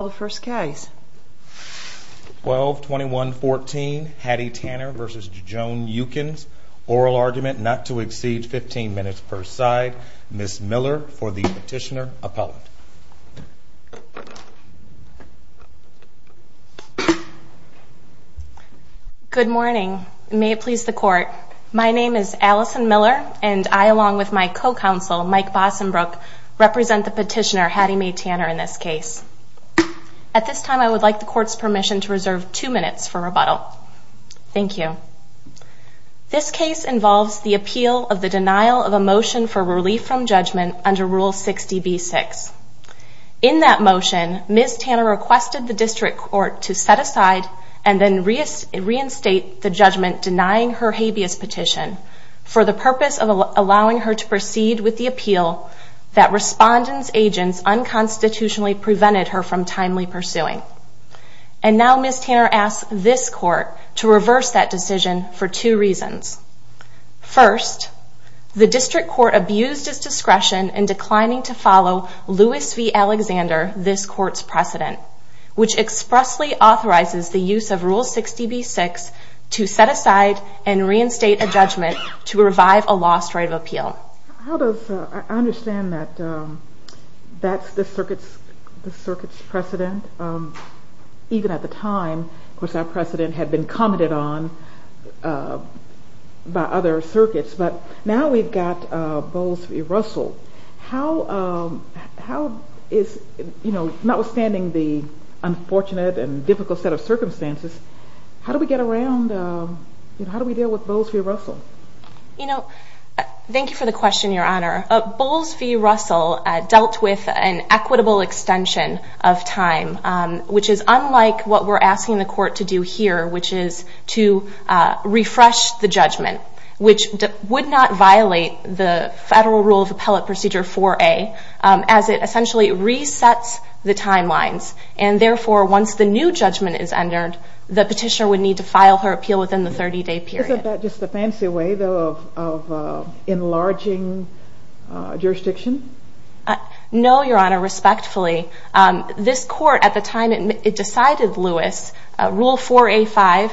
the first case 12 21 14 Hattie Tanner versus Joan Yukins oral argument not to exceed 15 minutes per side miss Miller for the petitioner appellant good morning may it please the court my name is Allison Miller and I along with my co-counsel Mike Bossenbrook represent the petitioner Hattie Mae Tanner in this case at this time I would like the court's permission to reserve two minutes for rebuttal thank you this case involves the appeal of the denial of a motion for relief from judgment under rule 60 b6 in that motion miss Tanner requested the district court to set aside and then reinstate the judgment denying her habeas petition for the purpose of allowing her to proceed with the appeal that respondent's agents unconstitutionally prevented her from timely pursuing and now miss Tanner asks this court to reverse that decision for two reasons first the district court abused his discretion in declining to follow Lewis v Alexander this court's precedent which expressly authorizes the use of rule 60 b6 to set aside and reinstate a judgment to revive a lost right of appeal how does I understand that that's the circuits the circuits precedent even at the time of course our precedent had been commented on by other circuits but now we've got Bowles v Russell how how is you know not withstanding the unfortunate and difficult set of circumstances how do we get around how do we deal with Bowles v Russell you know thank you for the question your honor Bowles v Russell dealt with an equitable extension of time which is unlike what we're asking the court to do here which is to refresh the judgment which would not violate the federal rule of appellate procedure 4a as it essentially resets the timelines and therefore once the new judgment is filed her appeal within the 30-day period just a fancy way of enlarging jurisdiction no your honor respectfully this court at the time it decided Lewis rule 4a 5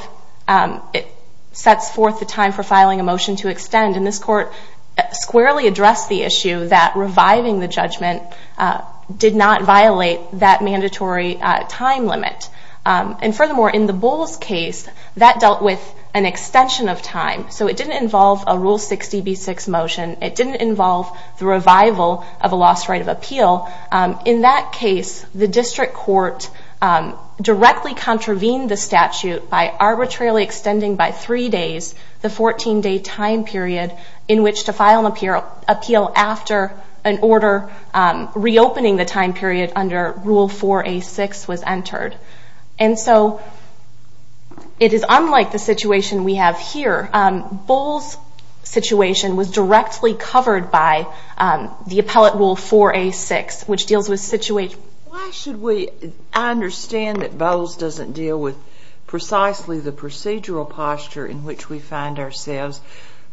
it sets forth the time for filing a motion to extend in this court squarely address the issue that reviving the judgment did not violate that dealt with an extension of time so it didn't involve a rule 60 b6 motion it didn't involve the revival of a lost right of appeal in that case the district court directly contravened the statute by arbitrarily extending by three days the 14 day time period in which to file an appeal appeal after an it is unlike the situation we have here Bowles situation was directly covered by the appellate rule 4a 6 which deals with situate should we understand that Bowles doesn't deal with precisely the procedural posture in which we find ourselves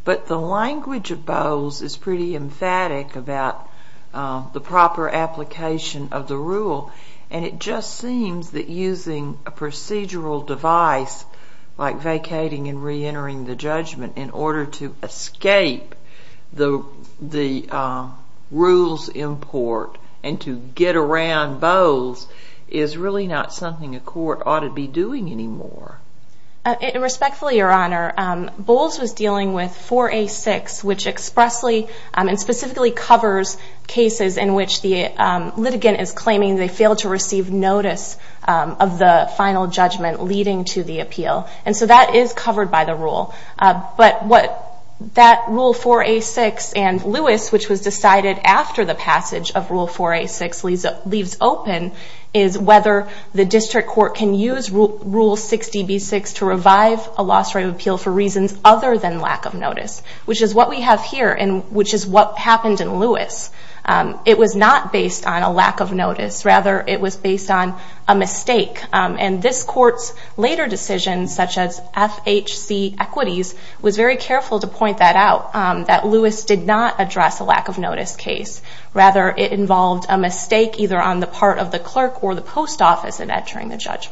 but the language of Bowles is pretty emphatic about the proper application of the rule and it just seems that using a procedural device like vacating and re-entering the judgment in order to escape the the rules import and to get around Bowles is really not something a court ought to be doing anymore it respectfully your honor Bowles was dealing with 4a 6 which expressly and specifically covers cases in which the litigant is claiming they fail to receive notice of the final judgment leading to the appeal and so that is covered by the rule but what that rule 4a 6 and Lewis which was decided after the passage of rule 4a 6 leaves open is whether the district court can use rule 60 b6 to revive a lost right of appeal for reasons other than lack of notice which is what we have here and which is what happened in Lewis it was not based on a lack of notice rather it was based on a mistake and this courts later decisions such as FHC equities was very careful to point that out that Lewis did not address a lack of notice case rather it involved a mistake either on the part of the clerk or the post office in entering the case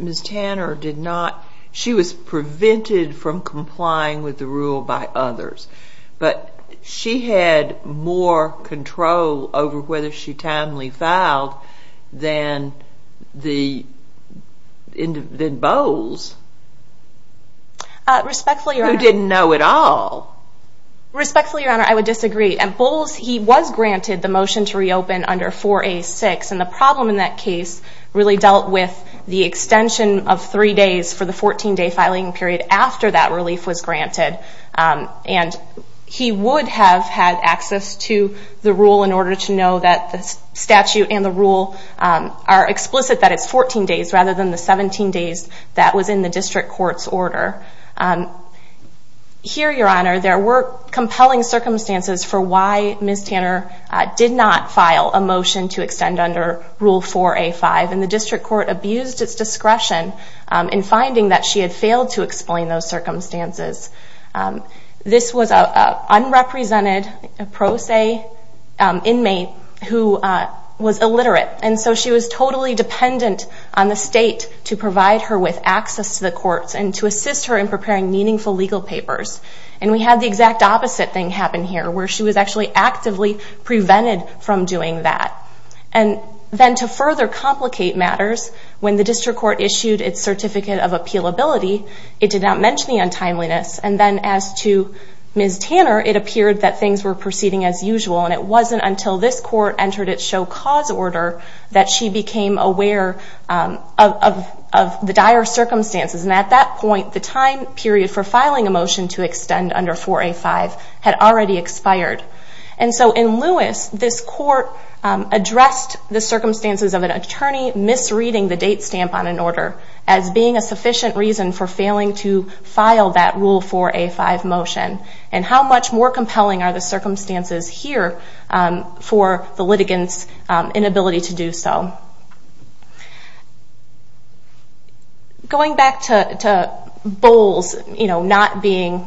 miss Tanner did not she was prevented from complying with the rule by others but she had more control over whether she timely filed then the end of the bowles respectfully you didn't know it all respectfully your honor I would disagree and Bowles he was granted the motion to reopen under 4a 6 and the case really dealt with the extension of three days for the 14 day filing period after that relief was granted and he would have had access to the rule in order to know that this statute and the rule are explicit that it's 14 days rather than the 17 days that was in the district court's order here your honor there were compelling circumstances for why miss Tanner did not file a motion to 5 and the district court abused its discretion in finding that she had failed to explain those circumstances this was a unrepresented pro se inmate who was illiterate and so she was totally dependent on the state to provide her with access to the courts and to assist her in preparing meaningful legal papers and we had the exact opposite thing happen here where she was actually actively prevented from doing that and then to further complicate matters when the district court issued its certificate of appeal ability it did not mention the untimeliness and then as to miss Tanner it appeared that things were proceeding as usual and it wasn't until this court entered its show cause order that she became aware of the dire circumstances and at that point the time period for filing a motion to extend under 4a 5 had already expired and so in Lewis this court addressed the circumstances of an attorney misreading the date stamp on an order as being a sufficient reason for failing to file that rule 4a 5 motion and how much more compelling are the circumstances here for the litigants inability to do so. Going back to Bowles you know not being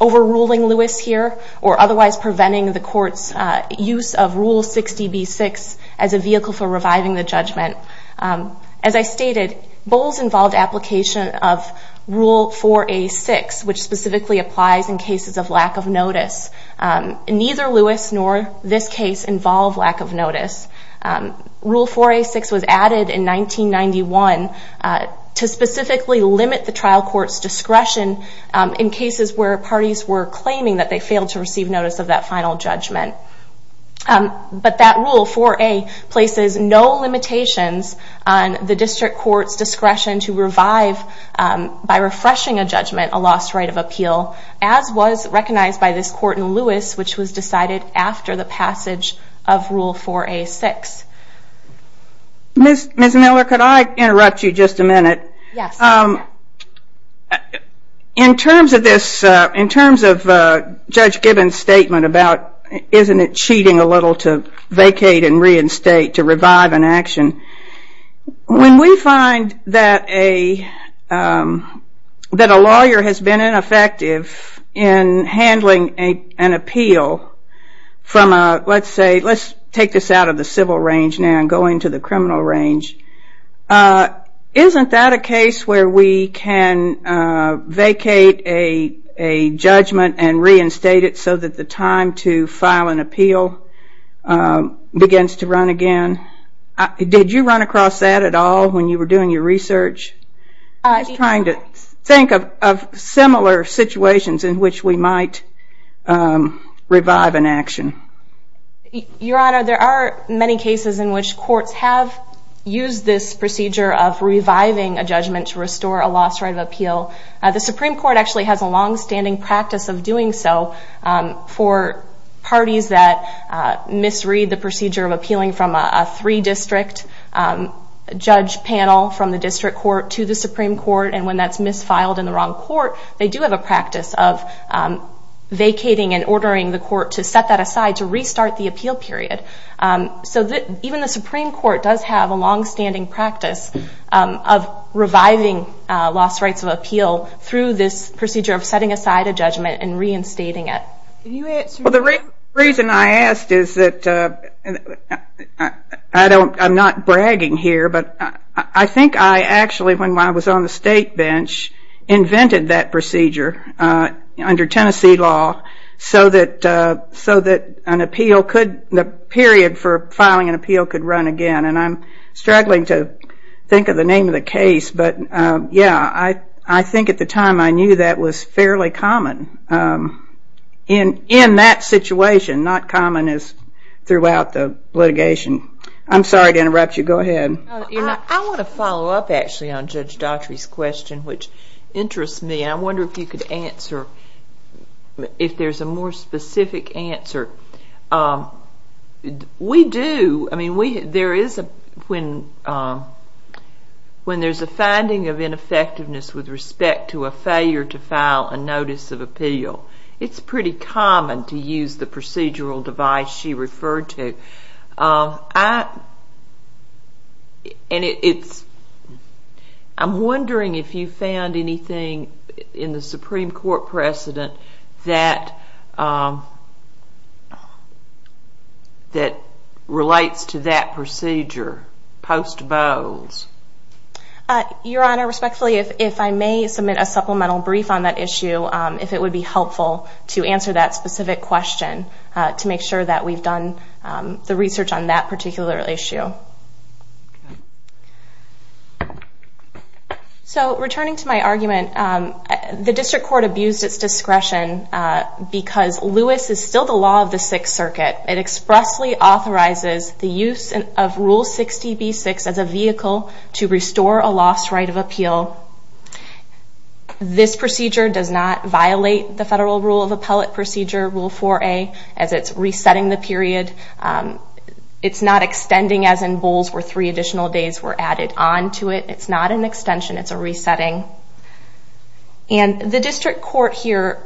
overruling Lewis here or otherwise preventing the court's use of rule 60b 6 as a vehicle for reviving the judgment as I stated Bowles involved application of rule 4a 6 which specifically applies in cases of lack of notice. Neither Lewis nor this case involve lack of notice. Rule 4a 6 was discretion in cases where parties were claiming that they failed to receive notice of that final judgment but that rule 4a places no limitations on the district court's discretion to revive by refreshing a judgment a lost right of appeal as was recognized by this court in Lewis which was decided after the In terms of this, in terms of Judge Gibbons statement about isn't it cheating a little to vacate and reinstate to revive an action when we find that a that a lawyer has been ineffective in handling an appeal from a let's say let's take this out of the civil range now and go into the criminal range isn't that a vacate a judgment and reinstate it so that the time to file an appeal begins to run again? Did you run across that at all when you were doing your research? I was trying to think of similar situations in which we might revive an action. Your honor there are many cases in which courts have used this procedure of reviving a judgment to restore a lost right of appeal. The Supreme Court actually has a long-standing practice of doing so for parties that misread the procedure of appealing from a three district judge panel from the district court to the Supreme Court and when that's misfiled in the wrong court they do have a practice of vacating and ordering the court to set that aside to restart the appeal period so that even the Supreme Court does have a long-standing practice of reviving lost rights of appeal through this procedure of setting aside a judgment and reinstating it. The reason I asked is that I don't I'm not bragging here but I think I actually when I was on the state bench invented that procedure under Tennessee law so that so that an appeal could run again and I'm struggling to think of the name of the case but yeah I I think at the time I knew that was fairly common in in that situation not common as throughout the litigation. I'm sorry to interrupt you go ahead. I want to follow up actually on Judge Daughtry's question which interests me I wonder if you could answer if there's a more specific answer. We do I mean we there is a when when there's a finding of ineffectiveness with respect to a failure to file a notice of appeal it's pretty common to use the procedural device she referred to and it's I'm wondering if you found anything in the Supreme Court precedent that that relates to that procedure post Bowles. Your Honor respectfully if I may submit a supplemental brief on that issue if it would be helpful to answer that specific question to make sure that we've done the research on that particular issue. So returning to my argument the district court abused its discretion because Lewis is still the law of the Sixth Circuit. It expressly authorizes the use of rule 60b-6 as a vehicle to restore a lost right of appeal. This procedure does not violate the federal rule of appellate procedure rule 4a as it's resetting the period. It's not extending as in Bowles where three additional days were added on to it. It's not an extension it's a resetting and the district court here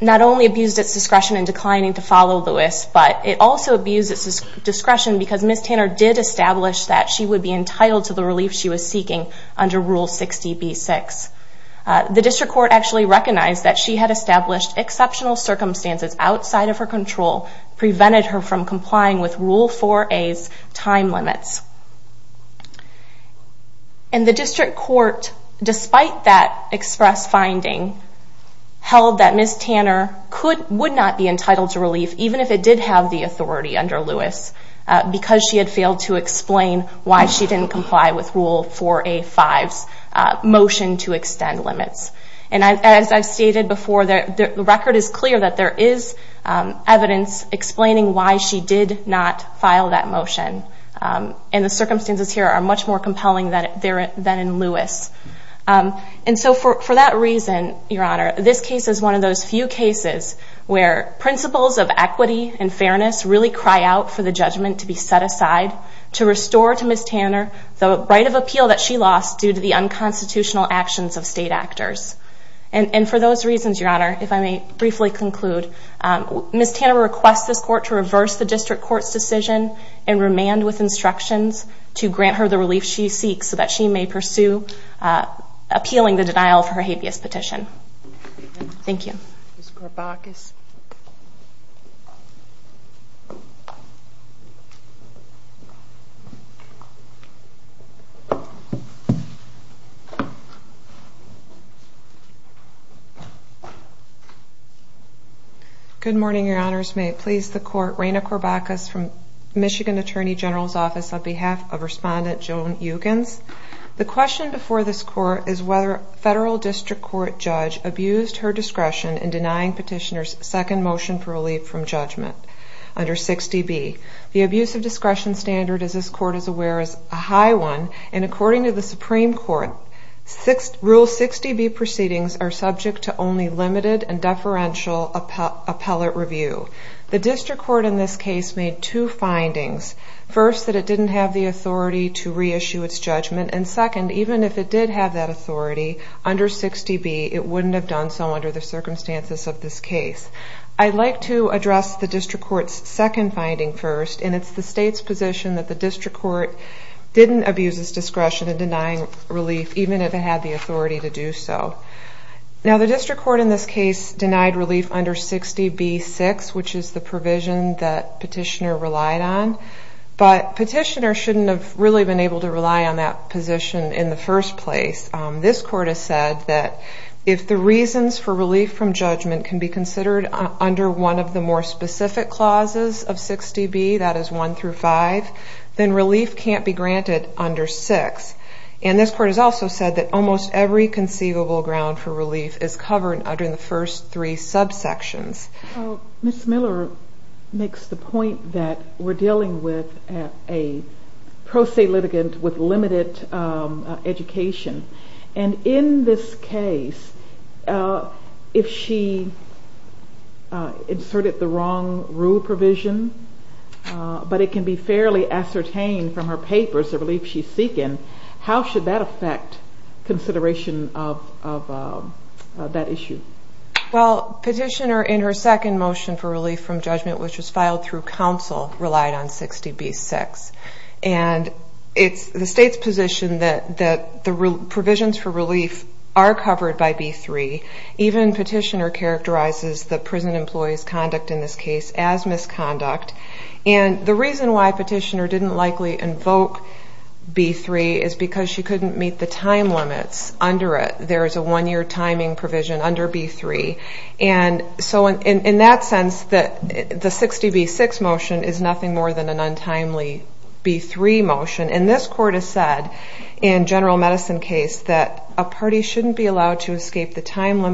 not only abused its discretion in declining to follow Lewis but it also abused its discretion because Ms. Tanner did establish that she would be entitled to the relief she was seeking under rule 60b-6. The district court actually recognized that she had established exceptional circumstances outside of her control prevented her from complying with rule 4a's time limits. And the district court despite that express finding held that Ms. Tanner would not be entitled to relief even if it did have the authority under Lewis because she had failed to explain why she didn't comply with rule 4a-5's motion to as I've stated before, the record is clear that there is evidence explaining why she did not file that motion. And the circumstances here are much more compelling than in Lewis. And so for that reason, Your Honor, this case is one of those few cases where principles of equity and fairness really cry out for the judgment to be set aside to restore to Ms. Tanner the right of appeal that state actors. And for those reasons, Your Honor, if I may briefly conclude, Ms. Tanner requests this court to reverse the district court's decision and remand with instructions to grant her the relief she seeks so that she may pursue appealing the denial of her habeas petition. Thank you. Good morning, Your Honors. May it please the court, Raina Corbacus from Michigan Attorney General's Office on behalf of Respondent Joan Eugens. The question before this court is whether a federal district court judge abused her discretion in denying petitioner's second motion for relief from judgment under 6db. The abuse of discretion standard, as this court is aware, is a high one. And according to the Supreme Court, Rule 6db proceedings are subject to only limited and deferential appellate review. The district court in this case made two findings. First, that it didn't have the authority to reissue its judgment. And second, even if it did have that authority under 6db, it wouldn't have done so under the circumstances of this case. I'd like to address the district court's second finding first, and it's the state's court didn't abuse its discretion in denying relief, even if it had the authority to do so. Now the district court in this case denied relief under 6db-6, which is the provision that petitioner relied on. But petitioner shouldn't have really been able to rely on that position in the first place. This court has said that if the reasons for relief from judgment can be considered under one of the more specific clauses of 6db, that is 1 through 5, then relief can't be granted under 6. And this court has also said that almost every conceivable ground for relief is covered under the first three subsections. Ms. Miller makes the point that we're dealing with a pro se litigant with limited education. And in this case, if she inserted the wrong rule provision, but it can be fairly ascertained from her papers the relief she's seeking, how should that affect consideration of that issue? Well, petitioner in her second motion for relief from judgment, which was filed through counsel, relied on 6db-6. And it's the state's position that the provisions for relief are covered by b-3. Even petitioner characterizes the misconduct. And the reason why petitioner didn't likely invoke b-3 is because she couldn't meet the time limits under it. There is a one-year timing provision under b-3. And so in that sense, the 6db-6 motion is nothing more than an untimely b-3 motion. And this court has said in general medicine case that a party shouldn't be allowed to escape the time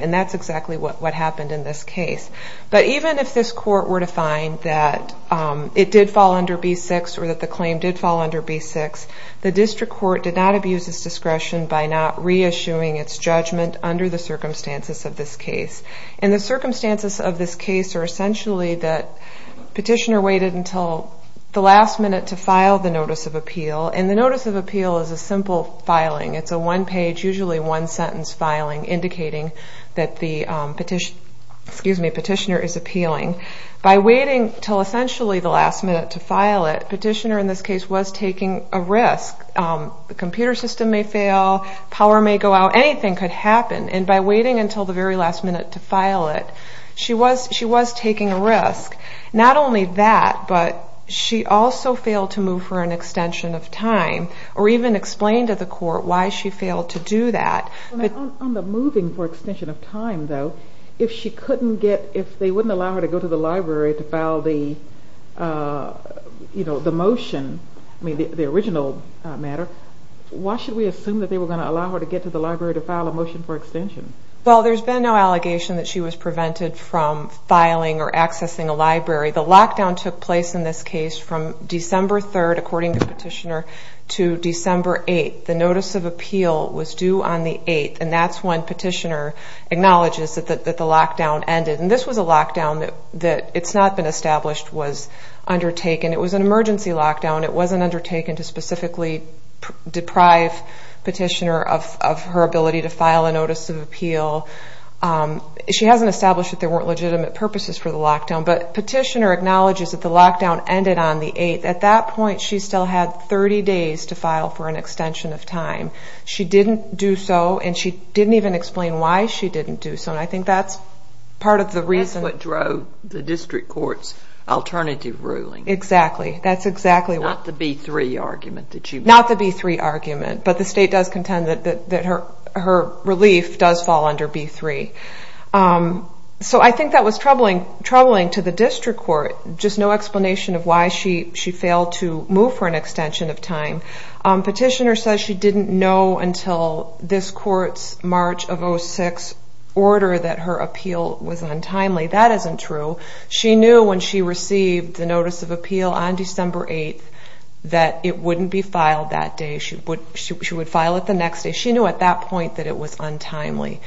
And that's exactly what happened in this case. But even if this court were to find that it did fall under b-6 or that the claim did fall under b-6, the district court did not abuse its discretion by not reissuing its judgment under the circumstances of this case. And the circumstances of this case are essentially that petitioner waited until the last minute to file the notice of appeal. And the notice of appeal is a simple filing. It's a one-page, usually one-sentence filing indicating that the petitioner is appealing. By waiting until essentially the last minute to file it, petitioner in this case was taking a risk. The computer system may fail, power may go out, anything could happen. And by waiting until the very last minute to file it, she was taking a risk. Not only that, but she also failed to move for an extension of time, though. If she couldn't get, if they wouldn't allow her to go to the library to file the motion, the original matter, why should we assume that they were going to allow her to get to the library to file a motion for extension? Well, there's been no allegation that she was prevented from filing or accessing a library. The lockdown took place in this case from December 3rd, according to the petitioner, to December 8th. The notice of appeal was due on the 8th, and that's when petitioner acknowledges that the lockdown ended. And this was a lockdown that it's not been established was undertaken. It was an emergency lockdown. It wasn't undertaken to specifically deprive petitioner of her ability to file a notice of appeal. She hasn't established that there weren't legitimate purposes for the lockdown, but petitioner acknowledges that the lockdown ended on the 8th. At that point, she still had 30 days to file for an extension of time. She didn't do so, and she didn't even explain why she didn't do so. And I think that's part of the reason... That's what drove the district court's alternative ruling. Exactly. That's exactly what... Not the B3 argument that she... Not the B3 argument, but the state does contend that her relief does fall under B3. So I think that was troubling to the district court, just no explanation of why she failed to move for an extension of time. Petitioner says she didn't know until this court's March of 06 order that her appeal was untimely. That isn't true. She knew when she received the notice of appeal on December 8th that it wouldn't be filed that day. She would file it the next day. She knew at that point that it was untimely.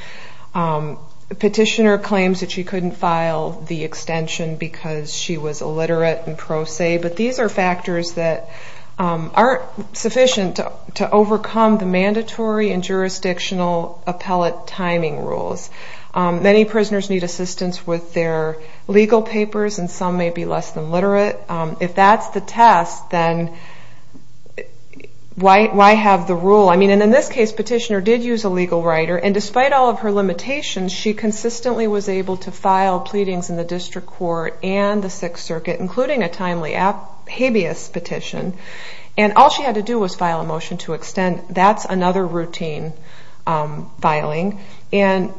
Petitioner claims that she couldn't file the extension because she was illiterate and pro se, but these are factors that aren't sufficient to overcome the mandatory and jurisdictional appellate timing rules. Many prisoners need assistance with their legal papers, and some may be less than literate. If that's the test, then why have the rule? And in this case, petitioner did use a legal writer, and despite all of her limitations, she consistently was able to and the Sixth Circuit, including a timely habeas petition, and all she had to do was file a motion to extend. That's another routine filing, and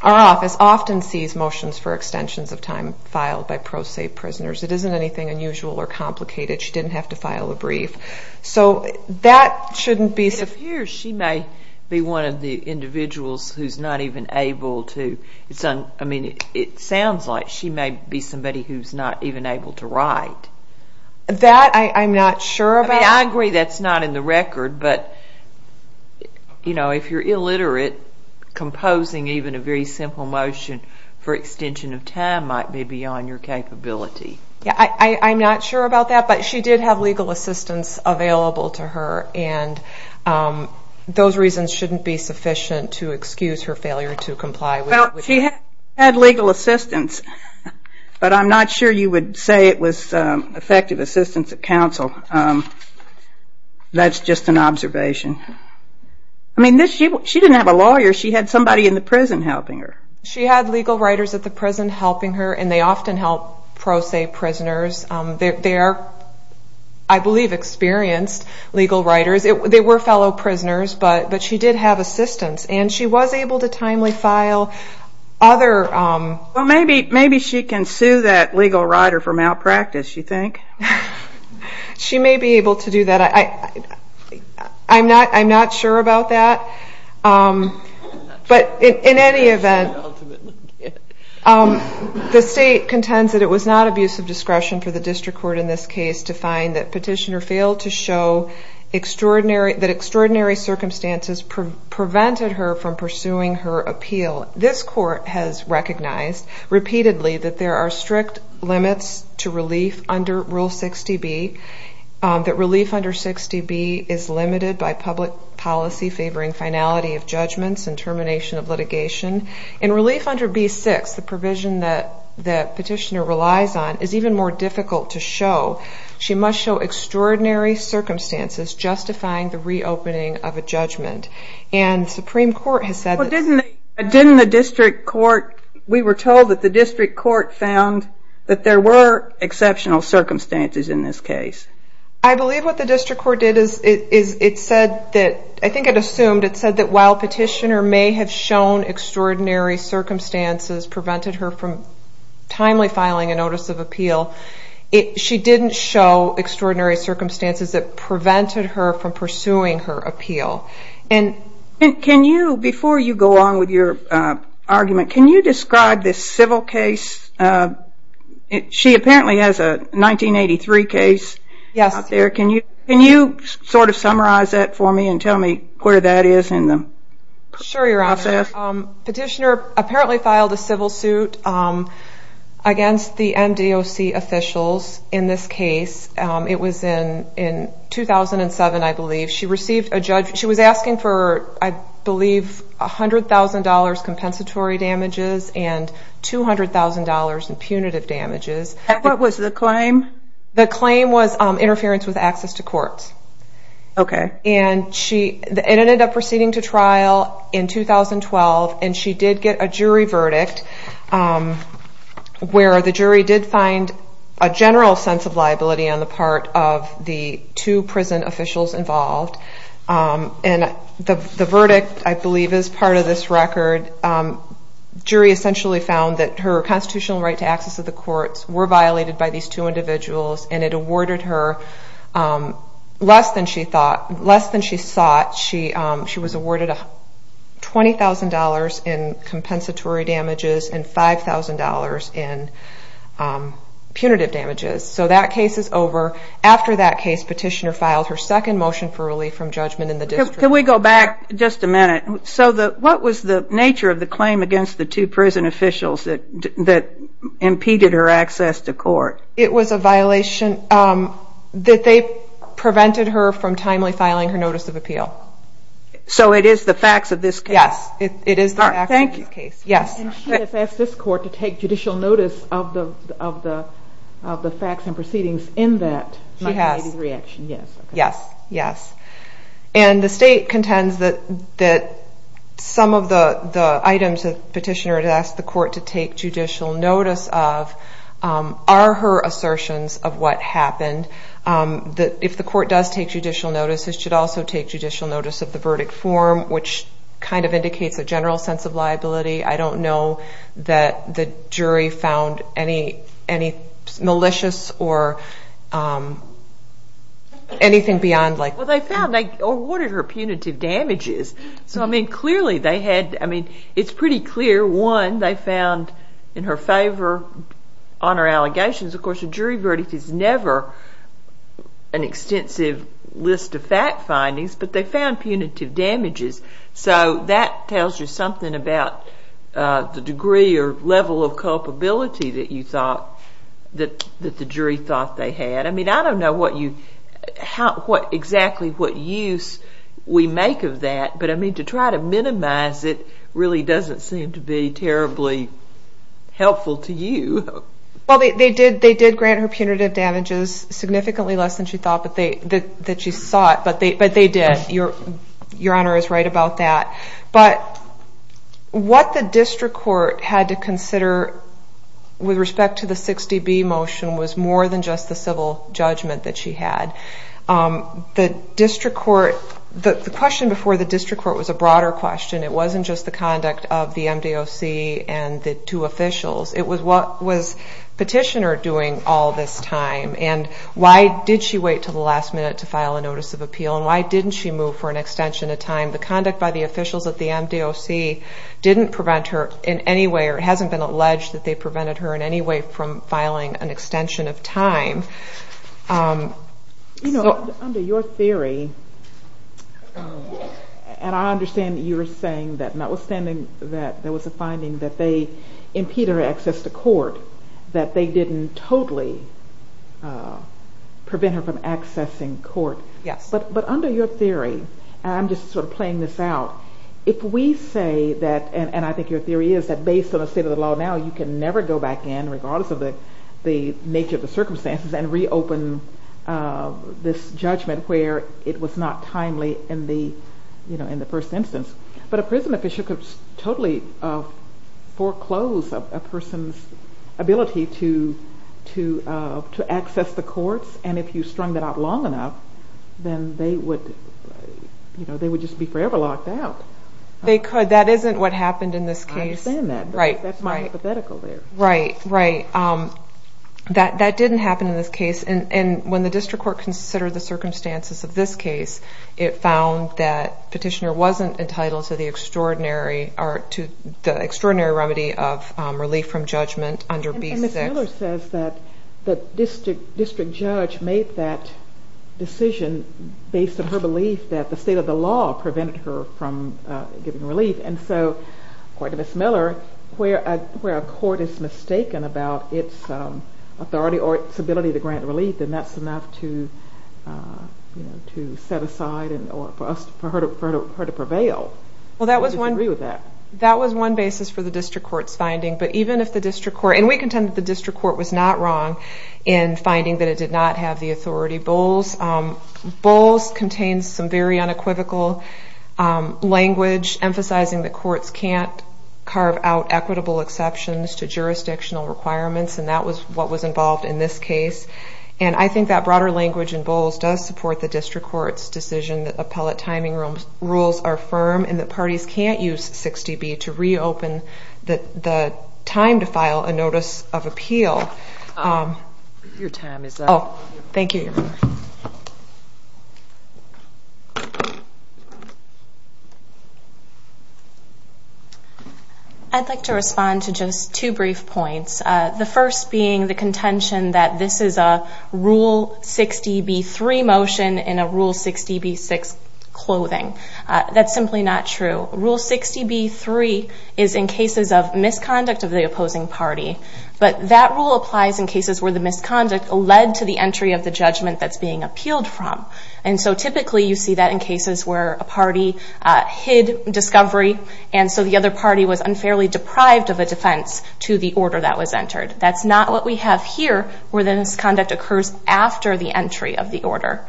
our office often sees motions for extensions of time filed by pro se prisoners. It isn't anything unusual or complicated. She didn't have to file a brief. So that shouldn't be... If here, she may be one of the individuals who's not even able to... I mean, it sounds like she may be somebody who's not even able to write. That, I'm not sure about. I agree that's not in the record, but if you're illiterate, composing even a very simple motion for extension of time might be beyond your capability. Yeah, I'm not sure about that, but she did have legal assistance available to her, and those reasons shouldn't be sufficient to excuse her failure to comply with that. She had legal assistance, but I'm not sure you would say it was effective assistance at counsel. That's just an observation. I mean, she didn't have a lawyer. She had somebody in the prison helping her. She had legal writers at the prison helping her, and they often help pro se prisoners. They are, I believe, experienced legal writers. They were fellow prisoners, but she did have assistance, and she was able to timely file other... Well, maybe she can sue that legal writer for malpractice, you think? She may be able to do that. I'm not sure about that, but in any event, the state contends that it was not abuse of discretion for the district court in this case to find that petitioner failed to show extraordinary... That extraordinary circumstances prevented her from pursuing her appeal. This court has recognized repeatedly that there are strict limits to relief under Rule 60B, that relief under 60B is limited by public policy favoring finality of judgments and termination of litigation. In relief under B6, the provision that petitioner relies on is even more difficult to show. She must show extraordinary circumstances justifying the reopening of a judgment, and Supreme Court has said... Well, didn't the district court... We were told that the district court found that there were exceptional circumstances in this case. I believe what the district court did is it said that... I think it assumed it said that while petitioner may have shown extraordinary circumstances prevented her from timely filing a notice of appeal, she didn't show extraordinary circumstances that prevented her from pursuing her appeal. And... Can you, before you go on with your argument, can you describe this civil case? She apparently has a 1983 case out there. Yes. Can you summarize that for me and tell me where that is in the process? Sure, petitioner apparently filed a civil suit against the MDOC officials in this case. It was in 2007, I believe. She received a judge... She was asking for, I believe, $100,000 compensatory damages and $200,000 in punitive damages. And what was the claim? The claim was interference with access to courts. Okay. And she... And it ended up proceeding to trial in 2012, and she did get a jury verdict where the jury did find a general sense of liability on the part of the two prison officials involved. And the verdict, I believe, is part of this record. Jury essentially found that her constitutional right to access to the courts were violated by these two individuals, and it awarded her less than she thought... Less than she sought. She was awarded $20,000 in compensatory damages and $5,000 in punitive damages. So that case is over. After that case, petitioner filed her second motion for relief from judgment in the district. Can we go back just a minute? So what was the nature of the claim against the two prison officials that impeded her access to court? It was a violation that they prevented her from timely filing her notice of appeal. So it is the facts of this case? Yes, it is the facts of this case. Thank you. Yes. And she has asked this court to take judicial notice of the facts and proceedings in that... She has. My reaction, yes. Yes, yes. And the state contends that some of the items the petitioner had asked the court to take judicial notice of are her assertions of what happened. If the court does take judicial notice, it should also take judicial notice of the verdict form, which kind of indicates a general sense of liability. I don't know that the jury found any malicious or anything beyond like... Well, they found... They awarded her punitive damages. So clearly, they had... It's pretty clear, one, they found in her favor honor allegations. Of course, a jury verdict is never an extensive list of fact findings, but they found punitive damages. So that tells you something about the degree or level of culpability that you thought... That the jury thought they had. I don't know what you... Exactly what use we make of that, but to try to minimize it really doesn't seem to be terribly helpful to you. Well, they did grant her punitive damages significantly less than she thought that she sought, but they did. Your honor is right about that. But what the district court had to consider with respect to the 60B motion was more than just the civil judgment that she had. The district court... The question before the district court was a broader question. It wasn't just the conduct of the MDOC and the two officials. It was what was petitioner doing all this time, and why did she wait till the last minute to file a notice of appeal, and why didn't she move for an extension of time? The conduct by the officials at the MDOC didn't prevent her in any way, or it hasn't been alleged that they prevented her in any way from filing an extension of time. Under your theory, and I understand that you're saying that notwithstanding that there was a finding that they impeded her access to court, that they didn't totally prevent her from accessing court. Yes. But under your theory, and I'm just sort of playing this out, if we say that, and I think your state of the law now, you can never go back in, regardless of the nature of the circumstances, and reopen this judgment where it was not timely in the first instance. But a prison official could totally foreclose a person's ability to access the courts, and if you strung that out long enough, then they would just be forever locked out. They could. That isn't what happened in this case. I understand that, but that's my hypothetical there. Right, right. That didn't happen in this case, and when the district court considered the circumstances of this case, it found that Petitioner wasn't entitled to the extraordinary remedy of relief from judgment under B6. And Ms. Miller says that the district judge made that decision based on her belief that the state of the law prevented her from giving relief. And so, according to Ms. Miller, where a court is mistaken about its authority or its ability to grant relief, then that's enough to set aside or for her to prevail. Well, that was one... I disagree with that. That was one basis for the district court's finding, but even if the district court... And we contend that the district court was not wrong in finding that it did not have the authority. Bowles contains some very unequivocal language emphasizing that courts can't carve out equitable exceptions to jurisdictional requirements, and that was what was involved in this case. And I think that broader language in Bowles does support the district court's decision that appellate timing rules are firm and that parties can't use 60B to reopen the time to file a notice of appeal. I'd like to respond to just two brief points. The first being the contention that this is a Rule 60B3 motion in a Rule 60B6 clothing. That's simply not true. Rule 60B3 is in cases of misconduct of the opposing party, but that rule applies in cases where the misconduct led to the entry of the judgment that's being where a party hid discovery, and so the other party was unfairly deprived of a defense to the order that was entered. That's not what we have here, where the misconduct occurs after the entry of the order.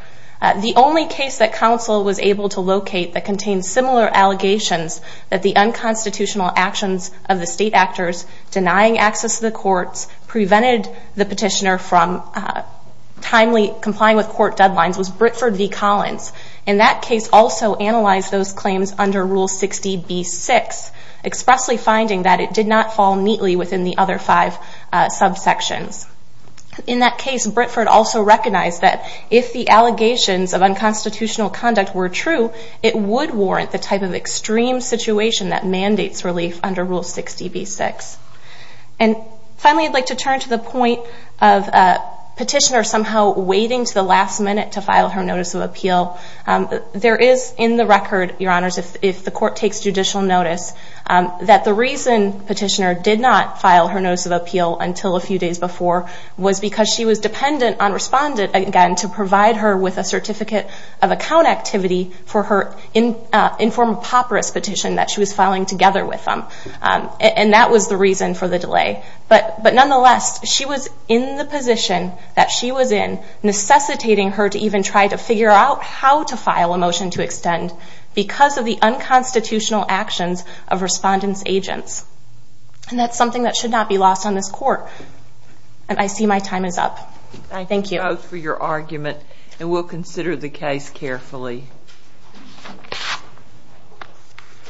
The only case that council was able to locate that contains similar allegations that the unconstitutional actions of the state actors denying access to the courts prevented the petitioner from timely complying with court deadlines was Britford v. Collins. In that case, also analyzed those claims under Rule 60B6, expressly finding that it did not fall neatly within the other five subsections. In that case, Britford also recognized that if the allegations of unconstitutional conduct were true, it would warrant the type of extreme situation that mandates relief under Rule 60B6. And finally, I'd like to turn to the point of petitioner somehow waiting to the last minute to file her notice of appeal. There is in the record, Your Honors, if the court takes judicial notice, that the reason petitioner did not file her notice of appeal until a few days before was because she was dependent on respondent, again, to provide her with a certificate of account activity for her informed papyrus petition that she was filing together with them. And that was the reason for the delay. But nonetheless, she was in the position that she was in, necessitating her to even try to figure out how to file a motion to extend because of the unconstitutional actions of respondents' agents. And that's something that should not be lost on this court. And I see my time is up. Thank you. Thank you both for your argument, and we'll consider the case carefully. Thank you.